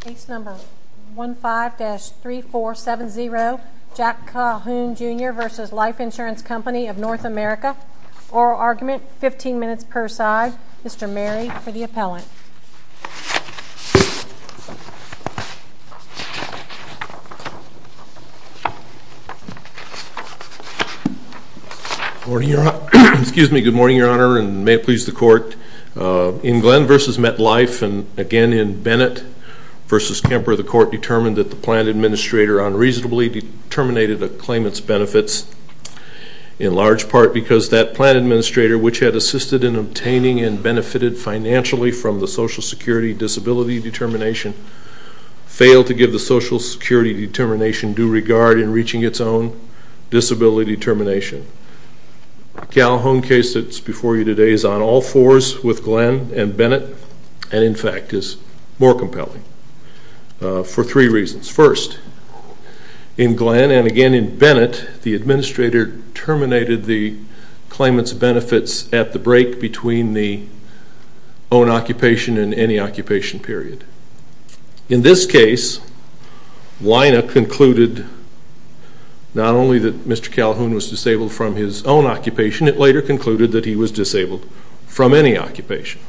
Case number 15-3470, Jack Calhoun Jr v. Life Insurance Co of North America. Oral argument, 15 minutes per side. Mr. Mary for the appellant. Good morning, Your Honor. Excuse me. Good morning, Your Honor, and may it please the court. In Glenn v. MetLife and again in Bennett v. Kemper, the court determined that the plan administrator unreasonably terminated a claimant's benefits. In large part because that plan administrator, which had assisted in obtaining and benefited financially from the Social Security Disability Determination, failed to give the Social Security Determination due regard in reaching its own disability determination. The Calhoun case that's before you today is on all fours with Glenn and Bennett and in fact is more compelling for three reasons. First, in Glenn and again in Bennett, the administrator terminated the claimant's benefits at the break between the own occupation and any occupation period. In this case, Lina concluded not only that Mr. Calhoun was disabled from his own occupation, it later concluded that he was disabled from any occupation.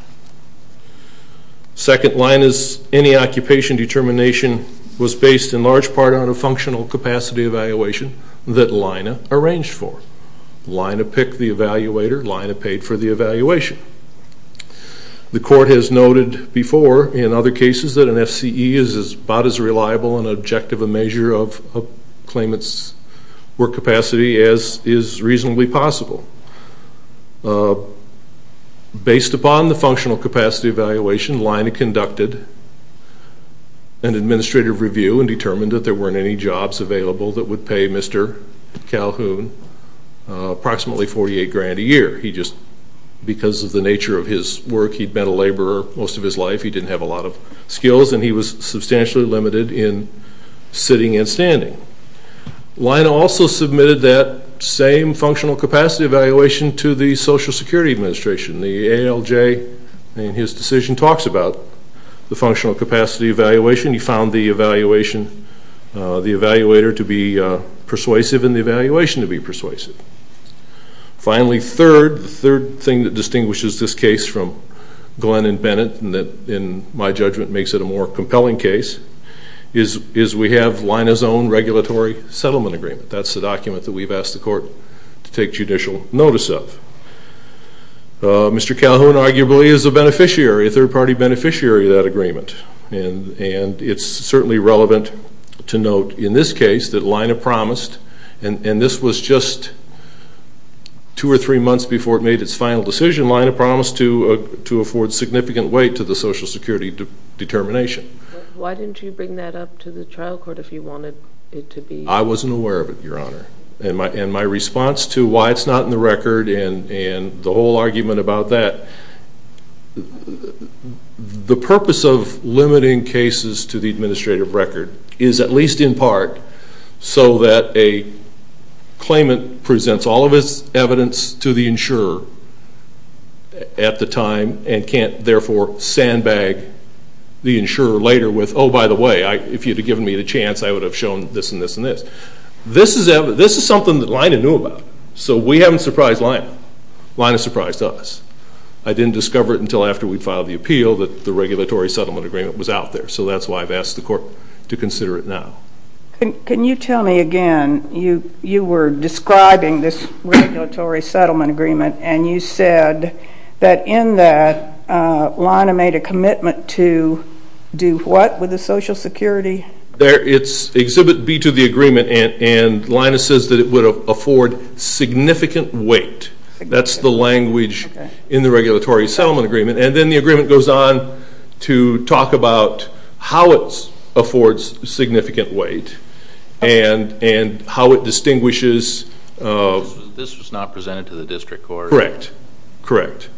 Second, Lina's any occupation determination was based in large part on a functional capacity evaluation that Lina arranged for. Lina picked the evaluator. Lina paid for the evaluation. The court has noted before in other cases that an FCE is about as reliable and objective a measure of a claimant's work capacity as is reasonably possible. Based upon the functional capacity evaluation, Lina conducted an administrative review and determined that there weren't any jobs available that would pay Mr. Calhoun approximately 48 grand a year. He just, because of the nature of his work, he'd been a laborer most of his life, he didn't have a lot of skills and he was substantially limited in sitting and standing. Lina also submitted that same functional capacity evaluation to the Social Security Administration. The ALJ in his decision talks about the functional capacity evaluation. He found the evaluator to be persuasive and the evaluation to be persuasive. Finally, third, the third thing that distinguishes this case from Glenn and Bennett and that in my judgment makes it a more compelling case, is we have Lina's own regulatory settlement agreement. That's the document that we've asked the court to take judicial notice of. Mr. Calhoun arguably is a beneficiary, a third party beneficiary of that agreement. It's certainly relevant to note in this case that Lina promised, and this was just two or three months before it made its final decision, Lina promised to afford significant weight to the Social Security determination. Why didn't you bring that up to the trial court if you wanted it to be? I wasn't aware of it, Your Honor. And my response to why it's not in the record and the whole argument about that, the purpose of limiting cases to the administrative record is at least in part so that a claimant presents all of his evidence to the insurer at the time and can't therefore sandbag the insurer later with, oh, by the way, if you'd have given me the chance, I would have shown this and this and this. This is something that Lina knew about, so we haven't surprised Lina. Lina surprised us. I didn't discover it until after we'd filed the appeal that the regulatory settlement agreement was out there, so that's why I've asked the court to consider it now. Can you tell me again, you were describing this regulatory settlement agreement, and you said that in that, Lina made a commitment to do what with the Social Security? It's Exhibit B to the agreement, and Lina says that it would afford significant weight. That's the language in the regulatory settlement agreement. And then the agreement goes on to talk about how it affords significant weight and how it distinguishes. This was not presented to the district court. Correct, correct.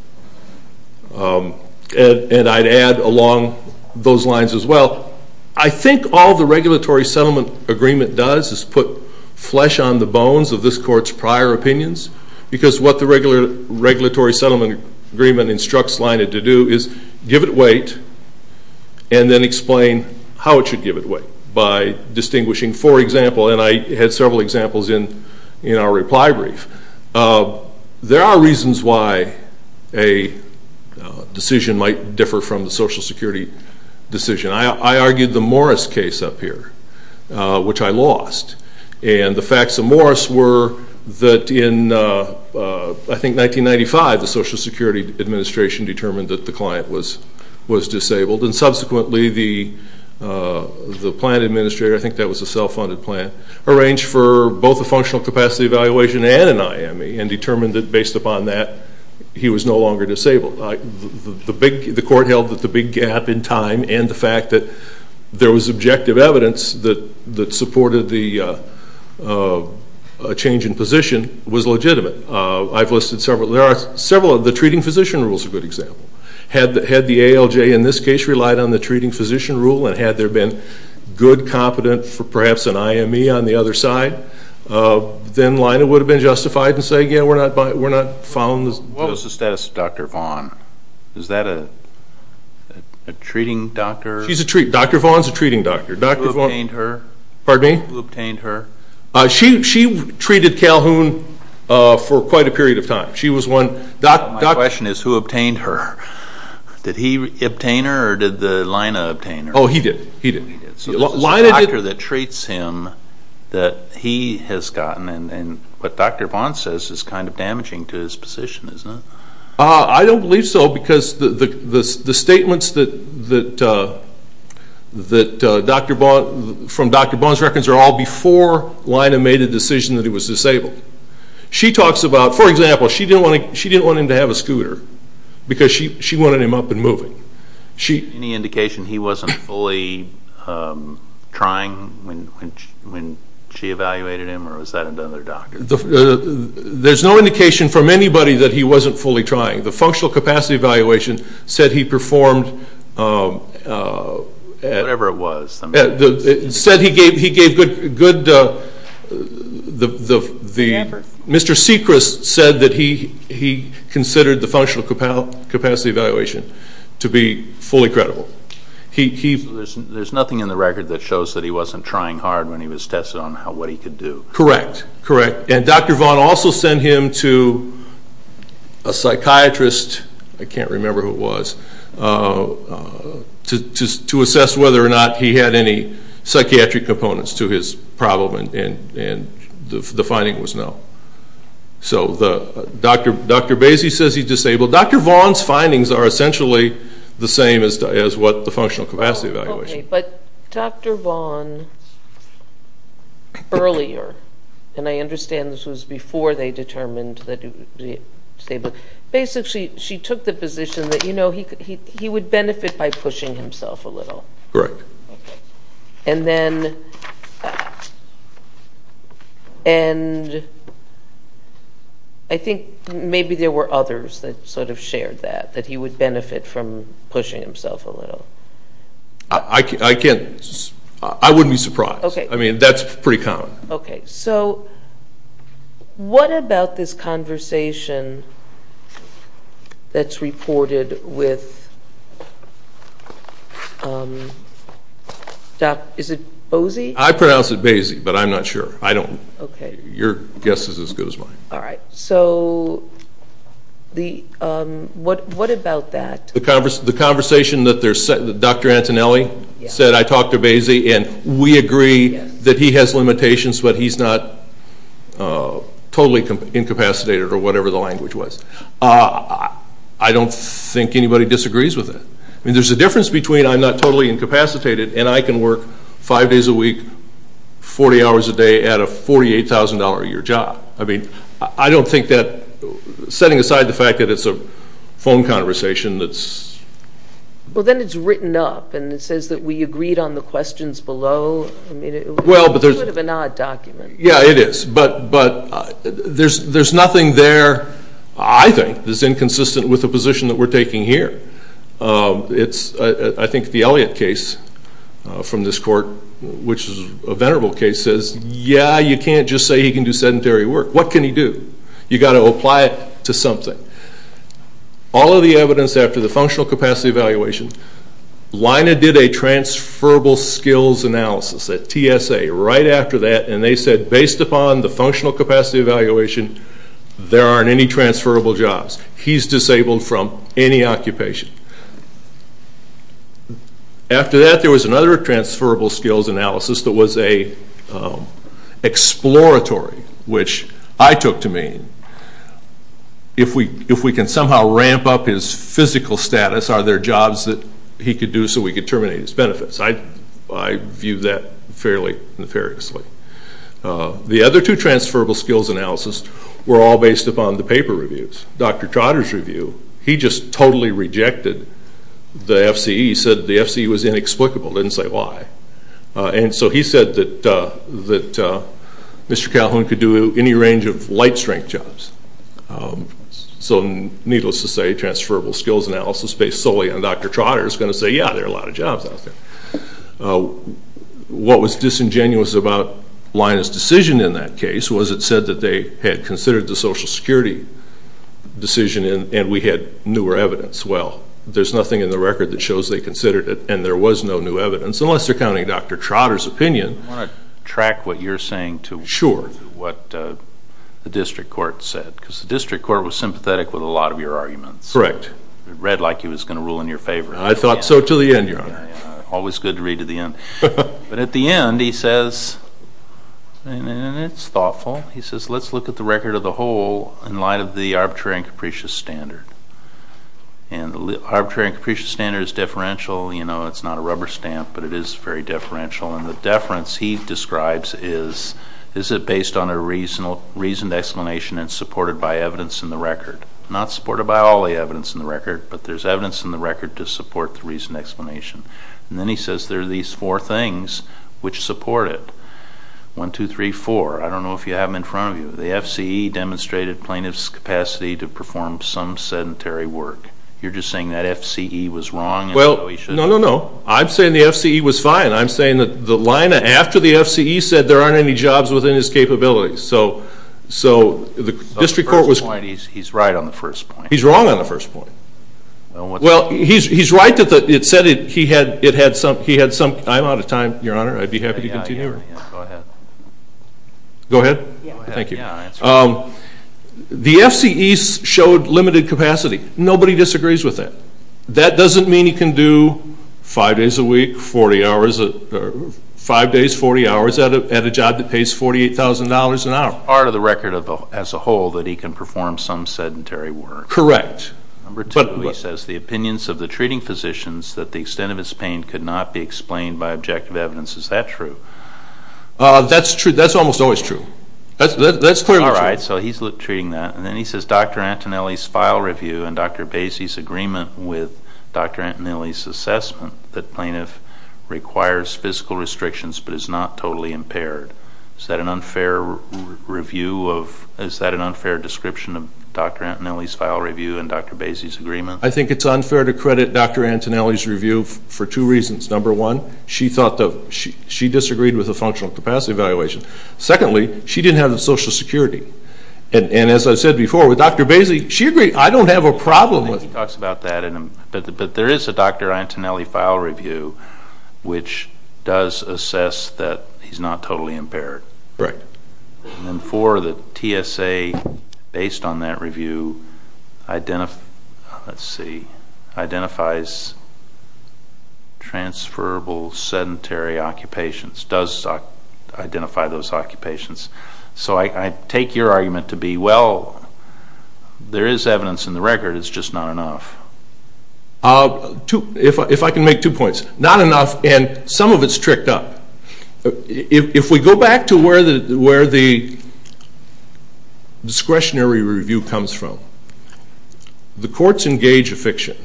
And I'd add along those lines as well, I think all the regulatory settlement agreement does is put flesh on the bones of this court's prior opinions because what the regulatory settlement agreement instructs Lina to do is give it weight and then explain how it should give it weight by distinguishing. For example, and I had several examples in our reply brief, there are reasons why a decision might differ from the Social Security decision. I argued the Morris case up here, which I lost, and the facts of Morris were that in, I think, 1995, the Social Security Administration determined that the client was disabled, and subsequently the plant administrator, I think that was a self-funded plant, arranged for both a functional capacity evaluation and an IME and determined that based upon that he was no longer disabled. The court held that the big gap in time and the fact that there was objective evidence that supported the change in position was legitimate. I've listed several. There are several. The treating physician rule is a good example. Had the ALJ in this case relied on the treating physician rule and had there been good competence for perhaps an IME on the other side, then Lina would have been justified in saying, yeah, we're not following this. What was the status of Dr. Vaughn? Is that a treating doctor? She's a treating doctor. Dr. Vaughn is a treating doctor. Who obtained her? Pardon me? Who obtained her? She treated Calhoun for quite a period of time. My question is, who obtained her? Did he obtain her or did Lina obtain her? He did. So this is a doctor that treats him that he has gotten and what Dr. Vaughn says is kind of damaging to his position, isn't it? I don't believe so because the statements from Dr. Vaughn's records are all before Lina made a decision that he was disabled. For example, she didn't want him to have a scooter because she wanted him up and moving. Was there any indication he wasn't fully trying when she evaluated him or was that another doctor? There's no indication from anybody that he wasn't fully trying. The functional capacity evaluation said he performed. Whatever it was. It said he gave good. Mr. Sechrist said that he considered the functional capacity evaluation to be fully credible. There's nothing in the record that shows that he wasn't trying hard when he was tested on what he could do. Correct. And Dr. Vaughn also sent him to a psychiatrist. I can't remember who it was. To assess whether or not he had any psychiatric components to his problem and the finding was no. So Dr. Basie says he's disabled. Dr. Vaughn's findings are essentially the same as what the functional capacity evaluation. Okay, but Dr. Vaughn earlier, and I understand this was before they determined that he was disabled, basically she took the position that he would benefit by pushing himself a little. Correct. And I think maybe there were others that sort of shared that, that he would benefit from pushing himself a little. I wouldn't be surprised. I mean, that's pretty common. Okay. So what about this conversation that's reported with, is it Bosie? I pronounce it Basie, but I'm not sure. I don't. Okay. Your guess is as good as mine. All right. So what about that? The conversation that Dr. Antonelli said, I talked to Basie and we agree that he has limitations, but he's not totally incapacitated or whatever the language was. I don't think anybody disagrees with that. I mean, there's a difference between I'm not totally incapacitated and I can work five days a week, 40 hours a day at a $48,000 a year job. I mean, I don't think that, setting aside the fact that it's a phone conversation that's... Well, then it's written up and it says that we agreed on the questions below. I mean, it would have been an odd document. Yeah, it is. But there's nothing there, I think, that's inconsistent with the position that we're taking here. I think the Elliott case from this court, which is a venerable case, says, yeah, you can't just say he can do sedentary work. What can he do? You've got to apply it to something. All of the evidence after the functional capacity evaluation, Leina did a transferable skills analysis, a TSA, right after that, and they said based upon the functional capacity evaluation, there aren't any transferable jobs. He's disabled from any occupation. After that, there was another transferable skills analysis that was an exploratory, which I took to mean if we can somehow ramp up his physical status, are there jobs that he could do so we could terminate his benefits? I view that fairly nefariously. The other two transferable skills analysis were all based upon the paper reviews. Dr. Trotter's review, he just totally rejected the FCE. He said the FCE was inexplicable, didn't say why. He said that Mr. Calhoun could do any range of light strength jobs. Needless to say, transferable skills analysis based solely on Dr. Trotter is going to say, yeah, there are a lot of jobs out there. What was disingenuous about Leina's decision in that case was it said that they had considered the Social Security decision and we had newer evidence. Well, there's nothing in the record that shows they considered it and there was no new evidence, unless you're counting Dr. Trotter's opinion. I want to track what you're saying to what the district court said because the district court was sympathetic with a lot of your arguments. Correct. It read like it was going to rule in your favor. I thought so to the end, Your Honor. Always good to read to the end. But at the end, he says, and it's thoughtful, he says let's look at the record of the whole in light of the arbitrary and capricious standard. And the arbitrary and capricious standard is deferential. It's not a rubber stamp, but it is very deferential. And the deference he describes is, is it based on a reasoned explanation and supported by evidence in the record? Not supported by all the evidence in the record, but there's evidence in the record to support the reasoned explanation. And then he says there are these four things which support it. One, two, three, four. I don't know if you have them in front of you. The FCE demonstrated plaintiff's capacity to perform some sedentary work. You're just saying that FCE was wrong. Well, no, no, no. I'm saying the FCE was fine. I'm saying that the line after the FCE said there aren't any jobs within his capability. So the district court was... He's right on the first point. He's wrong on the first point. Well, he's right that it said he had some... I'm out of time, Your Honor. I'd be happy to continue. Go ahead. Go ahead. Thank you. The FCE showed limited capacity. Nobody disagrees with that. That doesn't mean he can do five days a week, 40 hours... Five days, 40 hours at a job that pays $48,000 an hour. It's part of the record as a whole that he can perform some sedentary work. Correct. Number two, he says the opinions of the treating physicians that the extent of his pain could not be explained by objective evidence. Is that true? That's true. That's almost always true. That's clearly true. All right. So he's treating that. And then he says Dr. Antonelli's file review and Dr. Basie's agreement with Dr. Antonelli's assessment that plaintiff requires physical restrictions but is not totally impaired. Is that an unfair review of... Is that an unfair description of Dr. Antonelli's file review and Dr. Basie's agreement? I think it's unfair to credit Dr. Antonelli's review for two reasons. Number one, she disagreed with the functional capacity evaluation. Secondly, she didn't have the Social Security. And as I said before, with Dr. Basie, she agreed. I don't have a problem with... He talks about that. But there is a Dr. Antonelli file review which does assess that he's not totally impaired. Right. And four, the TSA, based on that review, identifies transferable sedentary occupations, does identify those occupations. So I take your argument to be, well, there is evidence in the record. It's just not enough. If I can make two points. Not enough and some of it's tricked up. If we go back to where the discretionary review comes from, the courts engage a fiction.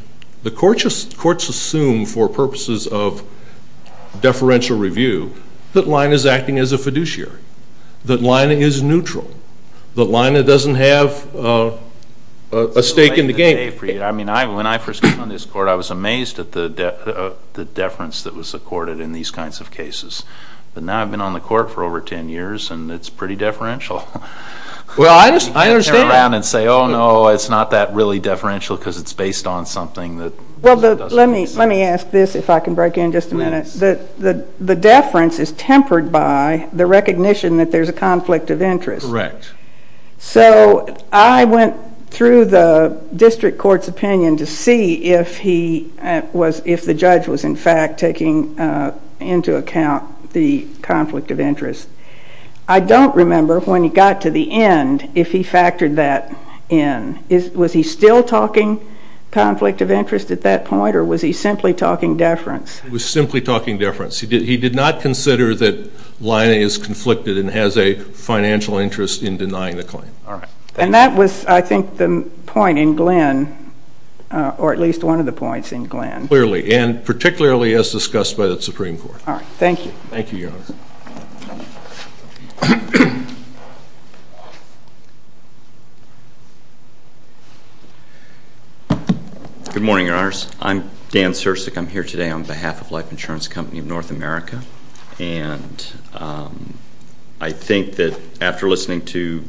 The courts assume for purposes of deferential review that Lina is acting as a fiduciary, that Lina is neutral, that Lina doesn't have a stake in the game. When I first came on this court, I was amazed at the deference that was accorded in these kinds of cases. But now I've been on the court for over 10 years and it's pretty deferential. Well, I understand. You can't turn around and say, oh, no, it's not that really deferential because it's based on something that... Well, let me ask this, if I can break in just a minute. The deference is tempered by the recognition that there's a conflict of interest. Correct. So, I went through the district court's opinion to see if he was... if the judge was in fact taking into account the conflict of interest. I don't remember when he got to the end, if he factored that in. Was he still talking conflict of interest at that point or was he simply talking deference? He was simply talking deference. He did not consider that Lina is conflicted and has a financial interest in denying the claim. All right. And that was, I think, the point in Glenn or at least one of the points in Glenn. Clearly. And particularly as discussed by the Supreme Court. All right. Thank you. Thank you, Your Honor. Good morning, Your Honors. I'm Dan Sirsak. I'm here today on behalf of Life Insurance Company of North America. And I think that after listening to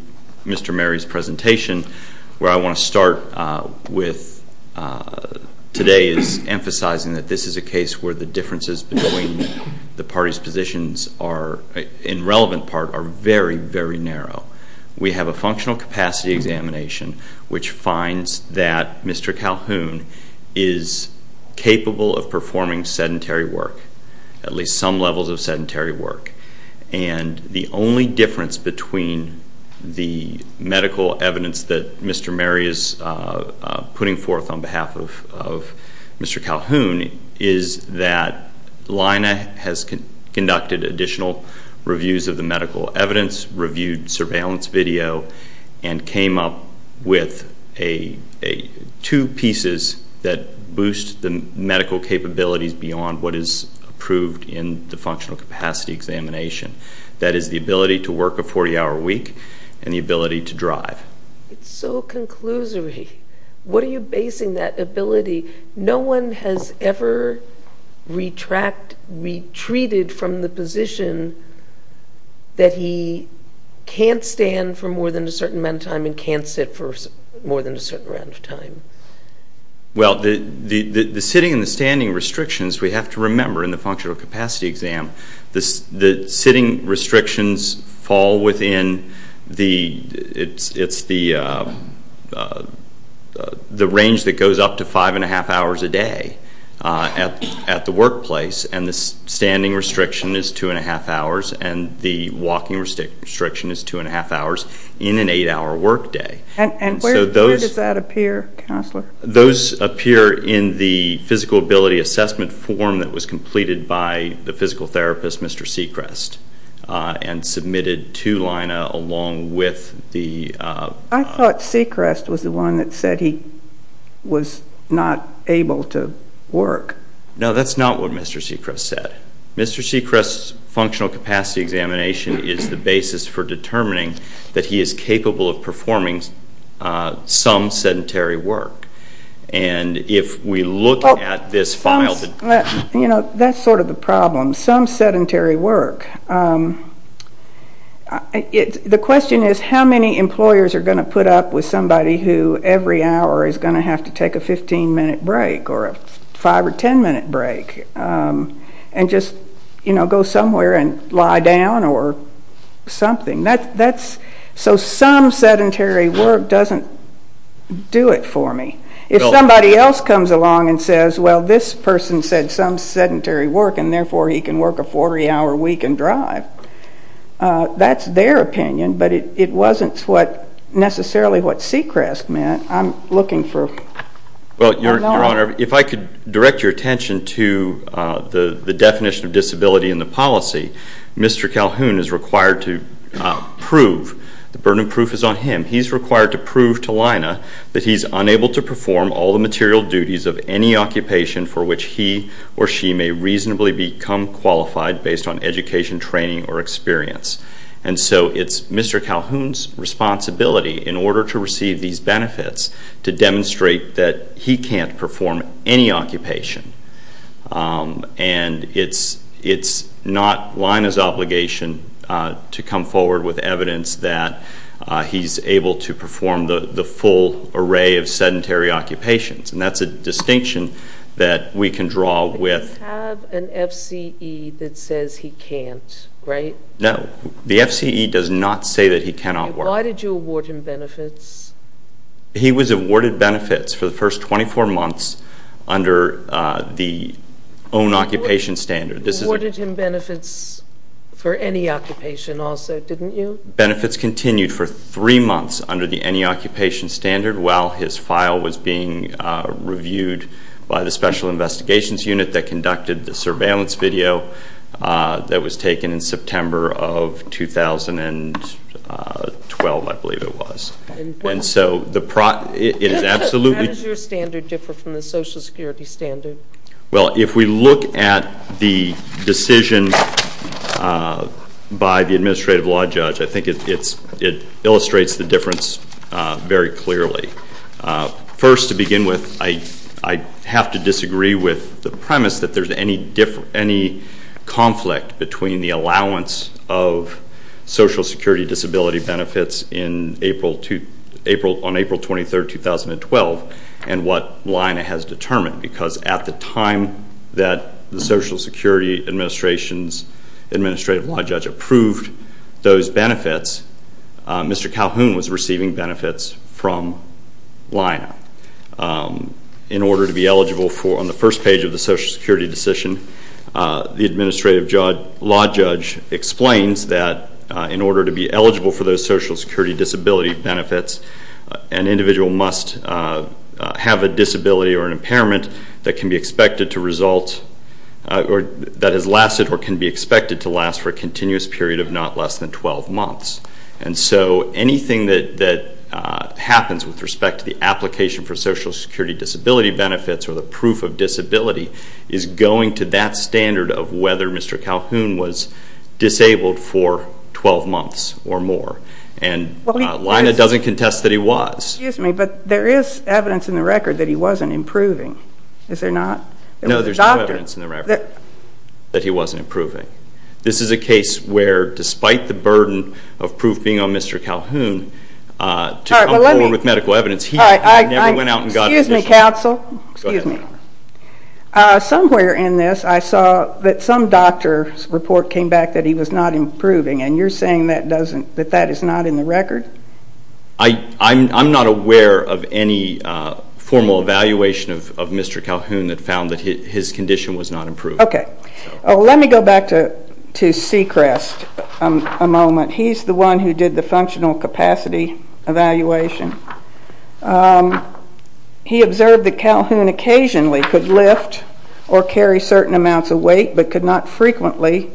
Mr. Mary's presentation, where I want to start with today is emphasizing that this is a case where the differences between the parties' positions are, in relevant part, are very, very narrow. We have a functional capacity examination which finds that Mr. Calhoun is capable of performing sedentary work, at least some levels of sedentary work. And the only difference between the medical evidence that Mr. Mary is putting forth on behalf of Mr. Calhoun is that Lina has conducted additional reviews of the medical evidence, reviewed surveillance video, and came up with two pieces that boost the medical capabilities beyond what is approved in the functional capacity examination. That is the ability to work a 40-hour week and the ability to drive. It's so conclusory. What are you basing that ability? No one has ever retreated from the position that he can't stand for more than a certain amount of time and can't sit for more than a certain amount of time. Well, the sitting and the standing restrictions, we have to remember in the functional capacity exam, the sitting restrictions fall within the range that goes up to 5 1⁄2 hours a day at the workplace, and the standing restriction is 2 1⁄2 hours and the walking restriction is 2 1⁄2 hours in an 8-hour workday. And where does that appear, Counselor? Those appear in the physical ability assessment form that was completed by the physical therapist, Mr. Sechrest, and submitted to Lina along with the... I thought Sechrest was the one that said he was not able to work. No, that's not what Mr. Sechrest said. Mr. Sechrest's functional capacity examination is the basis for determining that he is capable of performing some sedentary work. And if we look at this file... You know, that's sort of the problem, some sedentary work. The question is how many employers are going to put up with somebody who every hour is going to have to take a 15-minute break or a 5 or 10-minute break and just, you know, go somewhere and lie down or something. So some sedentary work doesn't do it for me. If somebody else comes along and says, well, this person said some sedentary work and therefore he can work a 40-hour week and drive, that's their opinion, but it wasn't necessarily what Sechrest meant. I'm looking for... Well, Your Honor, if I could direct your attention to the definition of disability in the policy, Mr. Calhoun is required to prove, the burden of proof is on him, he's required to prove to Lina that he's unable to perform all the material duties of any occupation for which he or she may reasonably become qualified based on education, training, or experience. And so it's Mr. Calhoun's responsibility in order to receive these benefits to demonstrate that he can't perform any occupation. And it's not Lina's obligation to come forward with evidence that he's able to perform the full array of sedentary occupations, and that's a distinction that we can draw with... He doesn't have an FCE that says he can't, right? No, the FCE does not say that he cannot work. Why did you award him benefits? He was awarded benefits for the first 24 months under the own occupation standard. You awarded him benefits for any occupation also, didn't you? Benefits continued for three months under the any occupation standard while his file was being reviewed by the Special Investigations Unit that conducted the surveillance video that was taken in September of 2012, I believe it was. And so it is absolutely... How does your standard differ from the Social Security standard? Well, if we look at the decision by the Administrative Law Judge, I think it illustrates the difference very clearly. First, to begin with, I have to disagree with the premise that there's any conflict between the allowance of Social Security disability benefits on April 23, 2012, and what Lina has determined. Because at the time that the Social Security Administrative Law Judge approved those benefits, Mr. Calhoun was receiving benefits from Lina. In order to be eligible for, on the first page of the Social Security decision, the Administrative Law Judge explains that in order to be eligible for those Social Security disability benefits, an individual must have a disability or an impairment that can be expected to result, or that has lasted or can be expected to last for a continuous period of not less than 12 months. And so anything that happens with respect to the application for Social Security disability benefits or the proof of disability is going to that standard of whether Mr. Calhoun was disabled for 12 months or more. And Lina doesn't contest that he was. Excuse me, but there is evidence in the record that he wasn't improving. Is there not? No, there's no evidence in the record that he wasn't improving. This is a case where, despite the burden of proof being on Mr. Calhoun to come forward with medical evidence, he never went out and got a decision. Excuse me, Counsel. Go ahead. Somewhere in this I saw that some doctor's report came back that he was not improving, and you're saying that that is not in the record? I'm not aware of any formal evaluation of Mr. Calhoun that found that his condition was not improving. Okay. Let me go back to Sechrest a moment. He's the one who did the functional capacity evaluation. He observed that Calhoun occasionally could lift or carry certain amounts of weight but could not frequently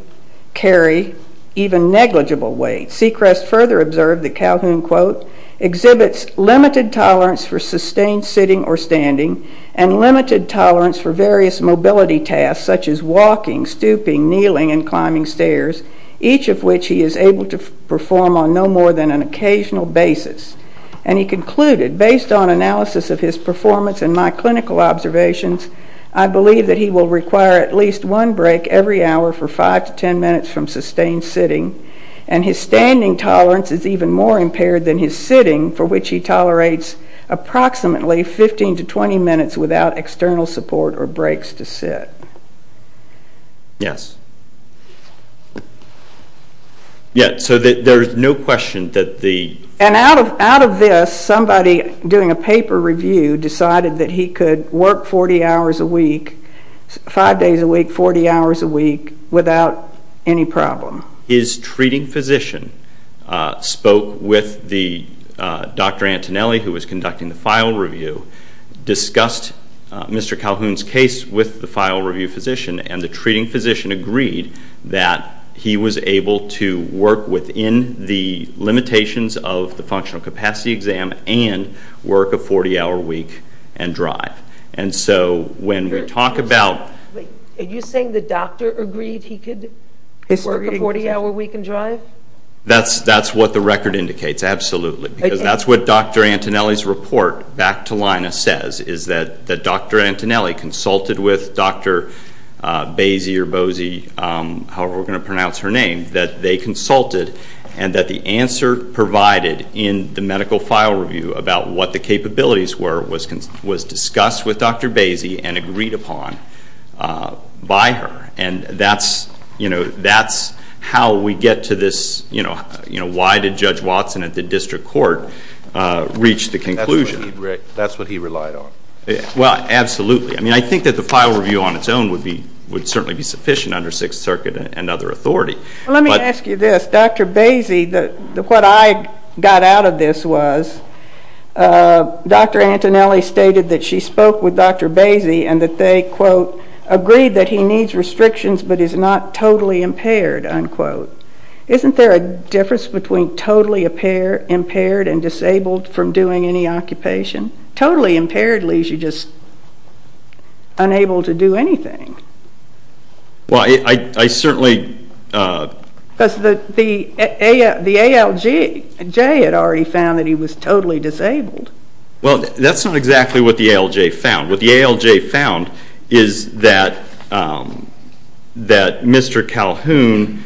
carry even negligible weight. Sechrest further observed that Calhoun, quote, exhibits limited tolerance for sustained sitting or standing and limited tolerance for various mobility tasks such as walking, stooping, kneeling, and climbing stairs, each of which he is able to perform on no more than an occasional basis. And he concluded, based on analysis of his performance and my clinical observations, I believe that he will require at least one break every hour for five to ten minutes from sustained sitting, and his standing tolerance is even more impaired than his sitting, for which he tolerates approximately 15 to 20 minutes without external support or breaks to sit. Yes. Yeah, so there's no question that the... And out of this, somebody doing a paper review decided that he could work 40 hours a week, five days a week, 40 hours a week without any problem. His treating physician spoke with Dr. Antonelli, who was conducting the file review, discussed Mr. Calhoun's case with the file review physician, and the treating physician agreed that he was able to work within the limitations of the functional capacity exam and work a 40-hour week and drive. And so when we talk about... Are you saying the doctor agreed he could work a 40-hour week and drive? That's what the record indicates, absolutely. Because that's what Dr. Antonelli's report, back to Lina, says, is that Dr. Antonelli consulted with Dr. Boese, however we're going to pronounce her name, that they consulted and that the answer provided in the medical file review about what the capabilities were was discussed with Dr. Boese and agreed upon by her. And that's how we get to this, you know, why did Judge Watson at the district court reach the conclusion? That's what he relied on. Well, absolutely. I mean, I think that the file review on its own would certainly be sufficient under Sixth Circuit and other authority. Well, let me ask you this. Dr. Boese, what I got out of this was Dr. Antonelli stated that she spoke with Dr. Boese and that they, quote, agreed that he needs restrictions but is not totally impaired, unquote. Isn't there a difference between totally impaired and disabled from doing any occupation? Totally impaired leaves you just unable to do anything. Well, I certainly... Because the ALJ had already found that he was totally disabled. Well, that's not exactly what the ALJ found. What the ALJ found is that Mr. Calhoun,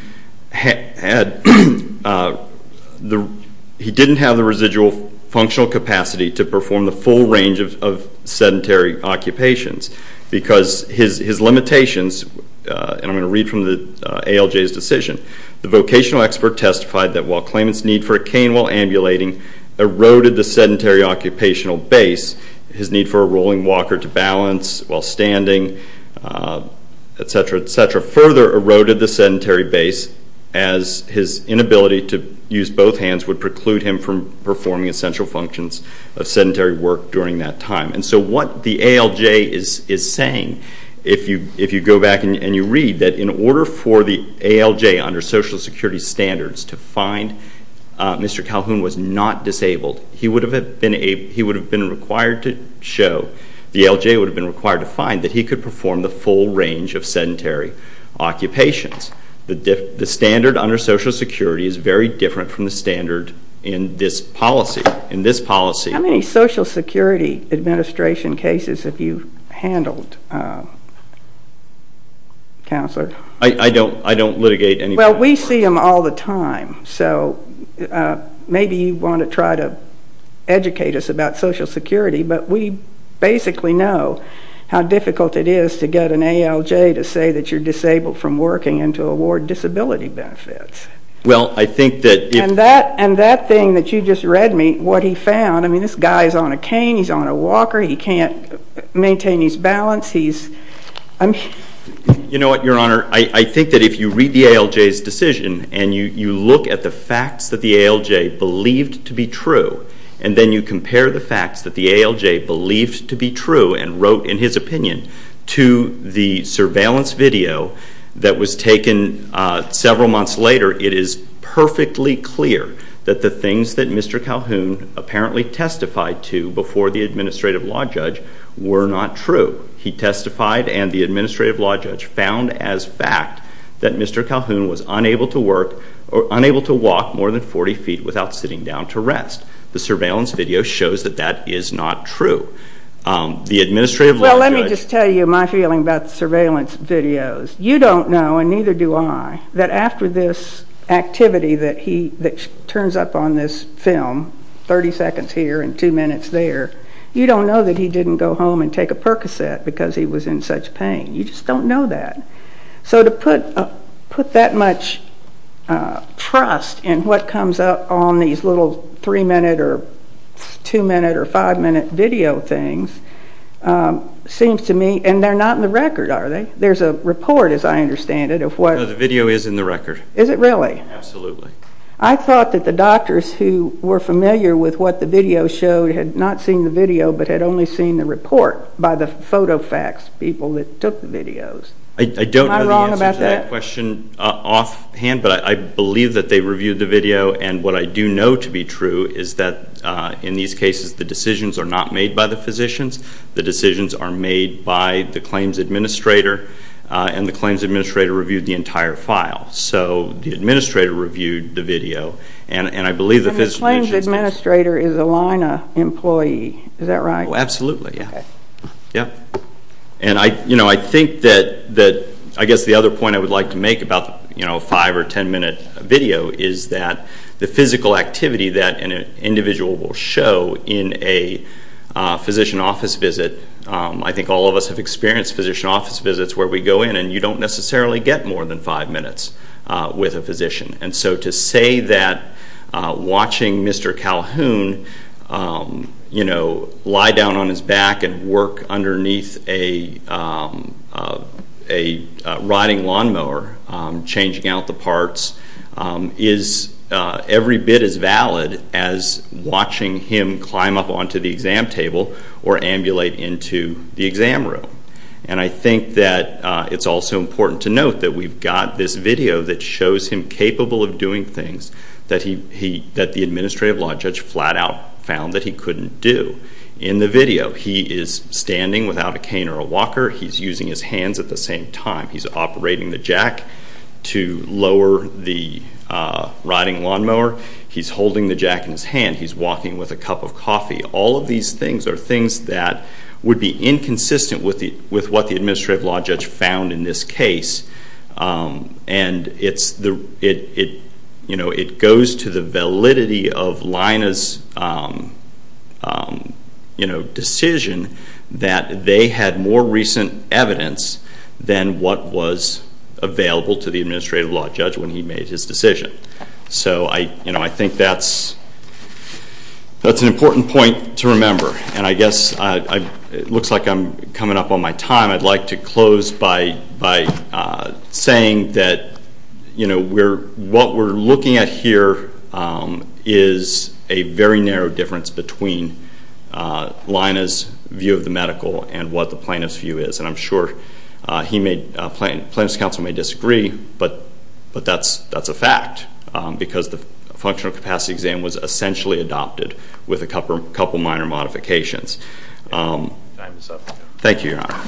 he didn't have the residual functional capacity to perform the full range of sedentary occupations because his limitations, and I'm going to read from the ALJ's decision, the vocational expert testified that while claimant's need for a cane while ambulating eroded the sedentary occupational base, his need for a rolling walker to balance while standing, et cetera, et cetera, further eroded the sedentary base as his inability to use both hands would preclude him from performing essential functions of sedentary work during that time. And so what the ALJ is saying, if you go back and you read, that in order for the ALJ under Social Security standards to find Mr. Calhoun was not disabled, he would have been required to show, the ALJ would have been required to find, that he could perform the full range of sedentary occupations. The standard under Social Security is very different from the standard in this policy. How many Social Security Administration cases have you handled, Counselor? I don't litigate any more. Well, we see them all the time. So maybe you want to try to educate us about Social Security, but we basically know how difficult it is to get an ALJ to say that you're disabled from working and to award disability benefits. And that thing that you just read me, what he found, I mean, this guy is on a cane, he's on a walker, he can't maintain his balance. You know what, Your Honor, I think that if you read the ALJ's decision and you look at the facts that the ALJ believed to be true, and then you compare the facts that the ALJ believed to be true and wrote in his opinion to the surveillance video that was taken several months later, it is perfectly clear that the things that Mr. Calhoun apparently testified to before the Administrative Law Judge were not true. He testified and the Administrative Law Judge found as fact that Mr. Calhoun was unable to work, or unable to walk more than 40 feet without sitting down to rest. The surveillance video shows that that is not true. The Administrative Law Judge... Well, let me just tell you my feeling about the surveillance videos. You don't know, and neither do I, that after this activity that turns up on this film, 30 seconds here and 2 minutes there, you don't know that he didn't go home and take a Percocet because he was in such pain. You just don't know that. So to put that much trust in what comes up on these little 3-minute or 2-minute or 5-minute video things seems to me... And they're not in the record, are they? There's a report, as I understand it, of what... No, the video is in the record. Is it really? Absolutely. I thought that the doctors who were familiar with what the video showed had not seen the video but had only seen the report by the photo facts people that took the videos. Am I wrong about that? I don't know the answer to that question offhand, but I believe that they reviewed the video, and what I do know to be true is that in these cases the decisions are not made by the physicians. The decisions are made by the claims administrator, and the claims administrator reviewed the entire file. So the administrator reviewed the video, and I believe the physicians... And the claims administrator is a LIHNA employee, is that right? Oh, absolutely. Okay. Yep. And I think that... I guess the other point I would like to make about the 5- or 10-minute video is that the physical activity that an individual will show in a physician office visit... I think all of us have experienced physician office visits where we go in and you don't necessarily get more than 5 minutes with a physician. And so to say that watching Mr. Calhoun lie down on his back and work underneath a rotting lawnmower changing out the parts is every bit as valid as watching him climb up onto the exam table or ambulate into the exam room. And I think that it's also important to note that we've got this video that shows him capable of doing things that the administrative law judge flat out found that he couldn't do. In the video, he is standing without a cane or a walker. He's using his hands at the same time. He's operating the jack to lower the rotting lawnmower. He's holding the jack in his hand. He's walking with a cup of coffee. All of these things are things that would be inconsistent with what the administrative law judge found in this case. And it goes to the validity of Lina's decision that they had more recent evidence than what was available to the administrative law judge when he made his decision. So I think that's an important point to remember. And I guess it looks like I'm coming up on my time. I'd like to close by saying that what we're looking at here is a very narrow difference between Lina's view of the medical and what the plaintiff's view is. And I'm sure the plaintiff's counsel may disagree, but that's a fact because the functional capacity exam was essentially adopted with a couple minor modifications. Time is up. Thank you, Your Honor.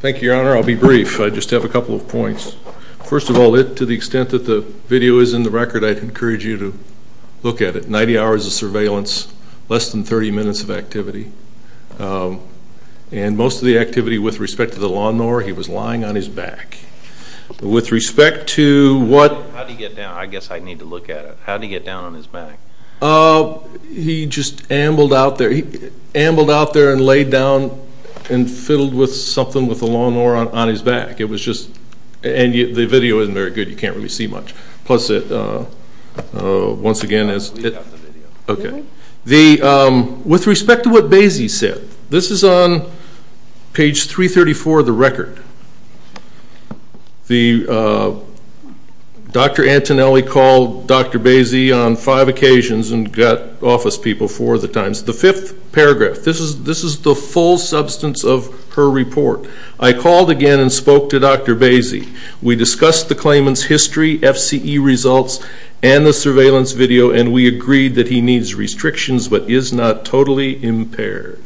Thank you, Your Honor. I'll be brief. I just have a couple of points. First of all, to the extent that the video is in the record, I'd encourage you to look at it. Ninety hours of surveillance, less than 30 minutes of activity. And most of the activity with respect to the lawnmower, he was lying on his back. With respect to what? How did he get down? I guess I'd need to look at it. How did he get down on his back? He just ambled out there and laid down and fiddled with something with the lawnmower on his back. It was just the video isn't very good. You can't really see much. Plus, once again, as it... Read out the video. Okay. With respect to what Basie said, this is on page 334 of the record. Dr. Antonelli called Dr. Basie on five occasions and got office people four of the times. The fifth paragraph. This is the full substance of her report. I called again and spoke to Dr. Basie. We discussed the claimant's history, FCE results, and the surveillance video, and we agreed that he needs restrictions but is not totally impaired.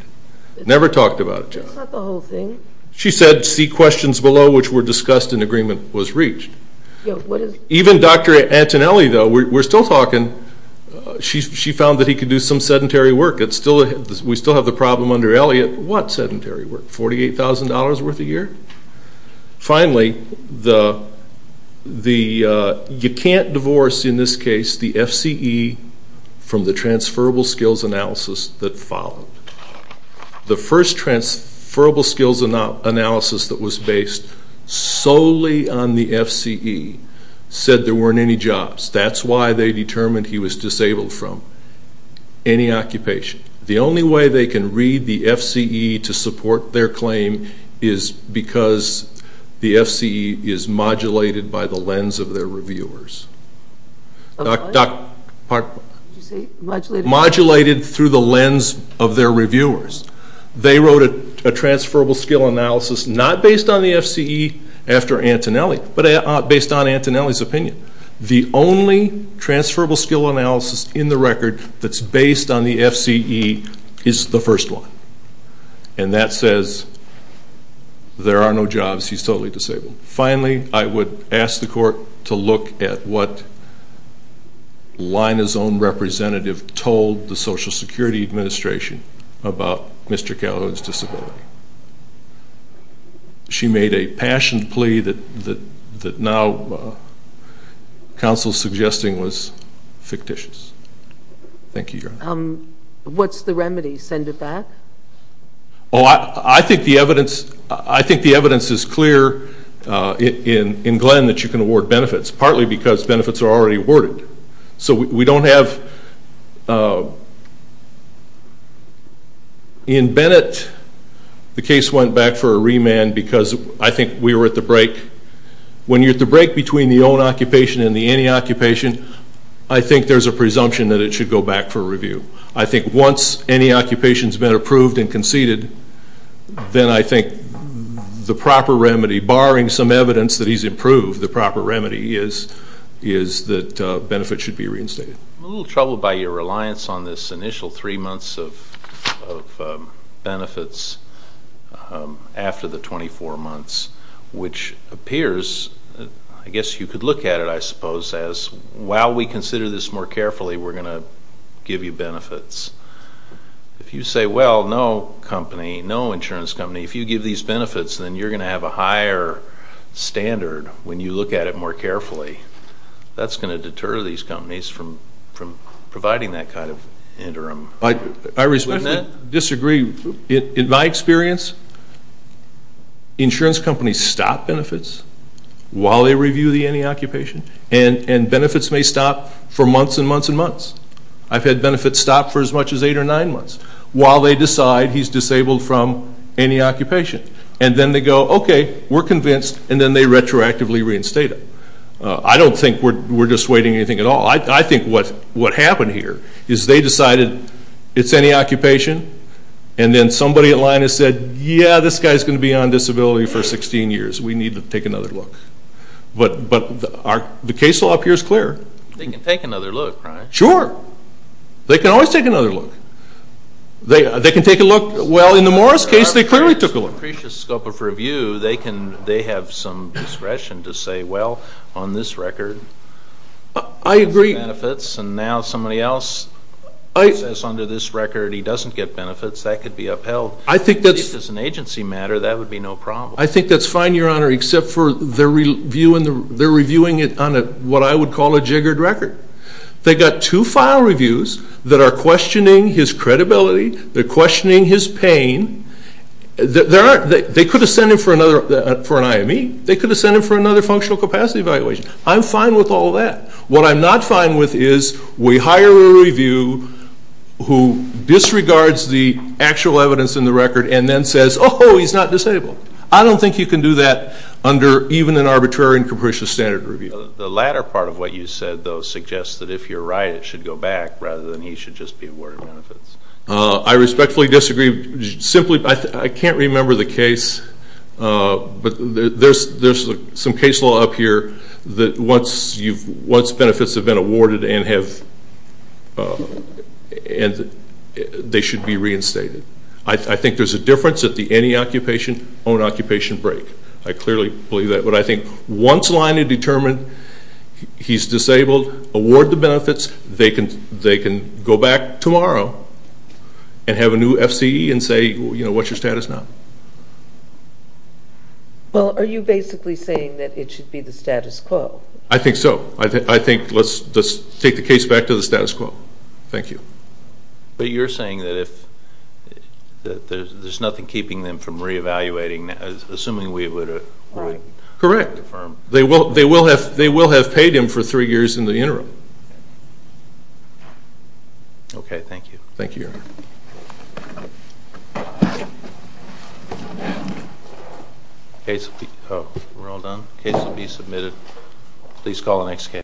Never talked about it. That's not the whole thing. She said, see questions below, which were discussed and agreement was reached. Even Dr. Antonelli, though, we're still talking. She found that he could do some sedentary work. We still have the problem under Elliott. What sedentary work? $48,000 worth a year? Finally, you can't divorce, in this case, the FCE from the transferable skills analysis that followed. The first transferable skills analysis that was based solely on the FCE said there weren't any jobs. That's why they determined he was disabled from any occupation. The only way they can read the FCE to support their claim is because the FCE is modulated by the lens of their reviewers. Modulated through the lens of their reviewers. They wrote a transferable skill analysis not based on the FCE after Antonelli but based on Antonelli's opinion. The only transferable skill analysis in the record that's based on the FCE is the first one, and that says there are no jobs. He's totally disabled. Finally, I would ask the court to look at what Lina's own representative told the Social Security Administration about Mr. Calhoun's disability. She made a passionate plea that now counsel is suggesting was fictitious. Thank you, Your Honor. What's the remedy? Send it back? I think the evidence is clear in Glenn that you can award benefits, partly because benefits are already awarded. So we don't have... In Bennett, the case went back for a remand because I think we were at the break. When you're at the break between the own occupation and the anti-occupation, I think there's a presumption that it should go back for review. I think once any occupation has been approved and conceded, then I think the proper remedy, barring some evidence that he's improved, the proper remedy is that benefits should be reinstated. I'm a little troubled by your reliance on this initial three months of benefits after the 24 months, which appears, I guess you could look at it, I suppose, as while we consider this more carefully, we're going to give you benefits. If you say, well, no company, no insurance company, if you give these benefits, then you're going to have a higher standard when you look at it more carefully. That's going to deter these companies from providing that kind of interim. I respectfully disagree. In my experience, insurance companies stop benefits while they review the anti-occupation, and benefits may stop for months and months and months. I've had benefits stop for as much as eight or nine months while they decide he's disabled from anti-occupation. And then they go, okay, we're convinced, and then they retroactively reinstate him. I don't think we're dissuading anything at all. I think what happened here is they decided it's anti-occupation, and then somebody at line has said, yeah, this guy's going to be on disability for 16 years. We need to take another look. But the case law up here is clear. They can take another look, right? Sure. They can always take another look. They can take a look. Well, in the Morris case, they clearly took a look. Under the scope of review, they have some discretion to say, well, on this record he has benefits, and now somebody else says under this record he doesn't get benefits. That could be upheld. If it's an agency matter, that would be no problem. I think that's fine, Your Honor, except for they're reviewing it on what I would call a jiggered record. They've got two file reviews that are questioning his credibility. They're questioning his pain. They could have sent him for an IME. They could have sent him for another functional capacity evaluation. I'm fine with all that. What I'm not fine with is we hire a review who disregards the actual evidence in the record and then says, oh, he's not disabled. I don't think you can do that under even an arbitrary and capricious standard review. The latter part of what you said, though, suggests that if you're right it should go back rather than he should just be awarded benefits. I respectfully disagree. I can't remember the case, but there's some case law up here that once benefits have been awarded and they should be reinstated. I think there's a difference at the any occupation, own occupation break. I clearly believe that. But I think once line is determined he's disabled, award the benefits, they can go back tomorrow and have a new FCE and say, you know, what's your status now? Well, are you basically saying that it should be the status quo? I think so. I think let's take the case back to the status quo. Thank you. But you're saying that there's nothing keeping them from re-evaluating, assuming we would have confirmed. Correct. They will have paid him for three years in the interim. Okay. Thank you. Thank you. Case will be submitted. Please call the next case.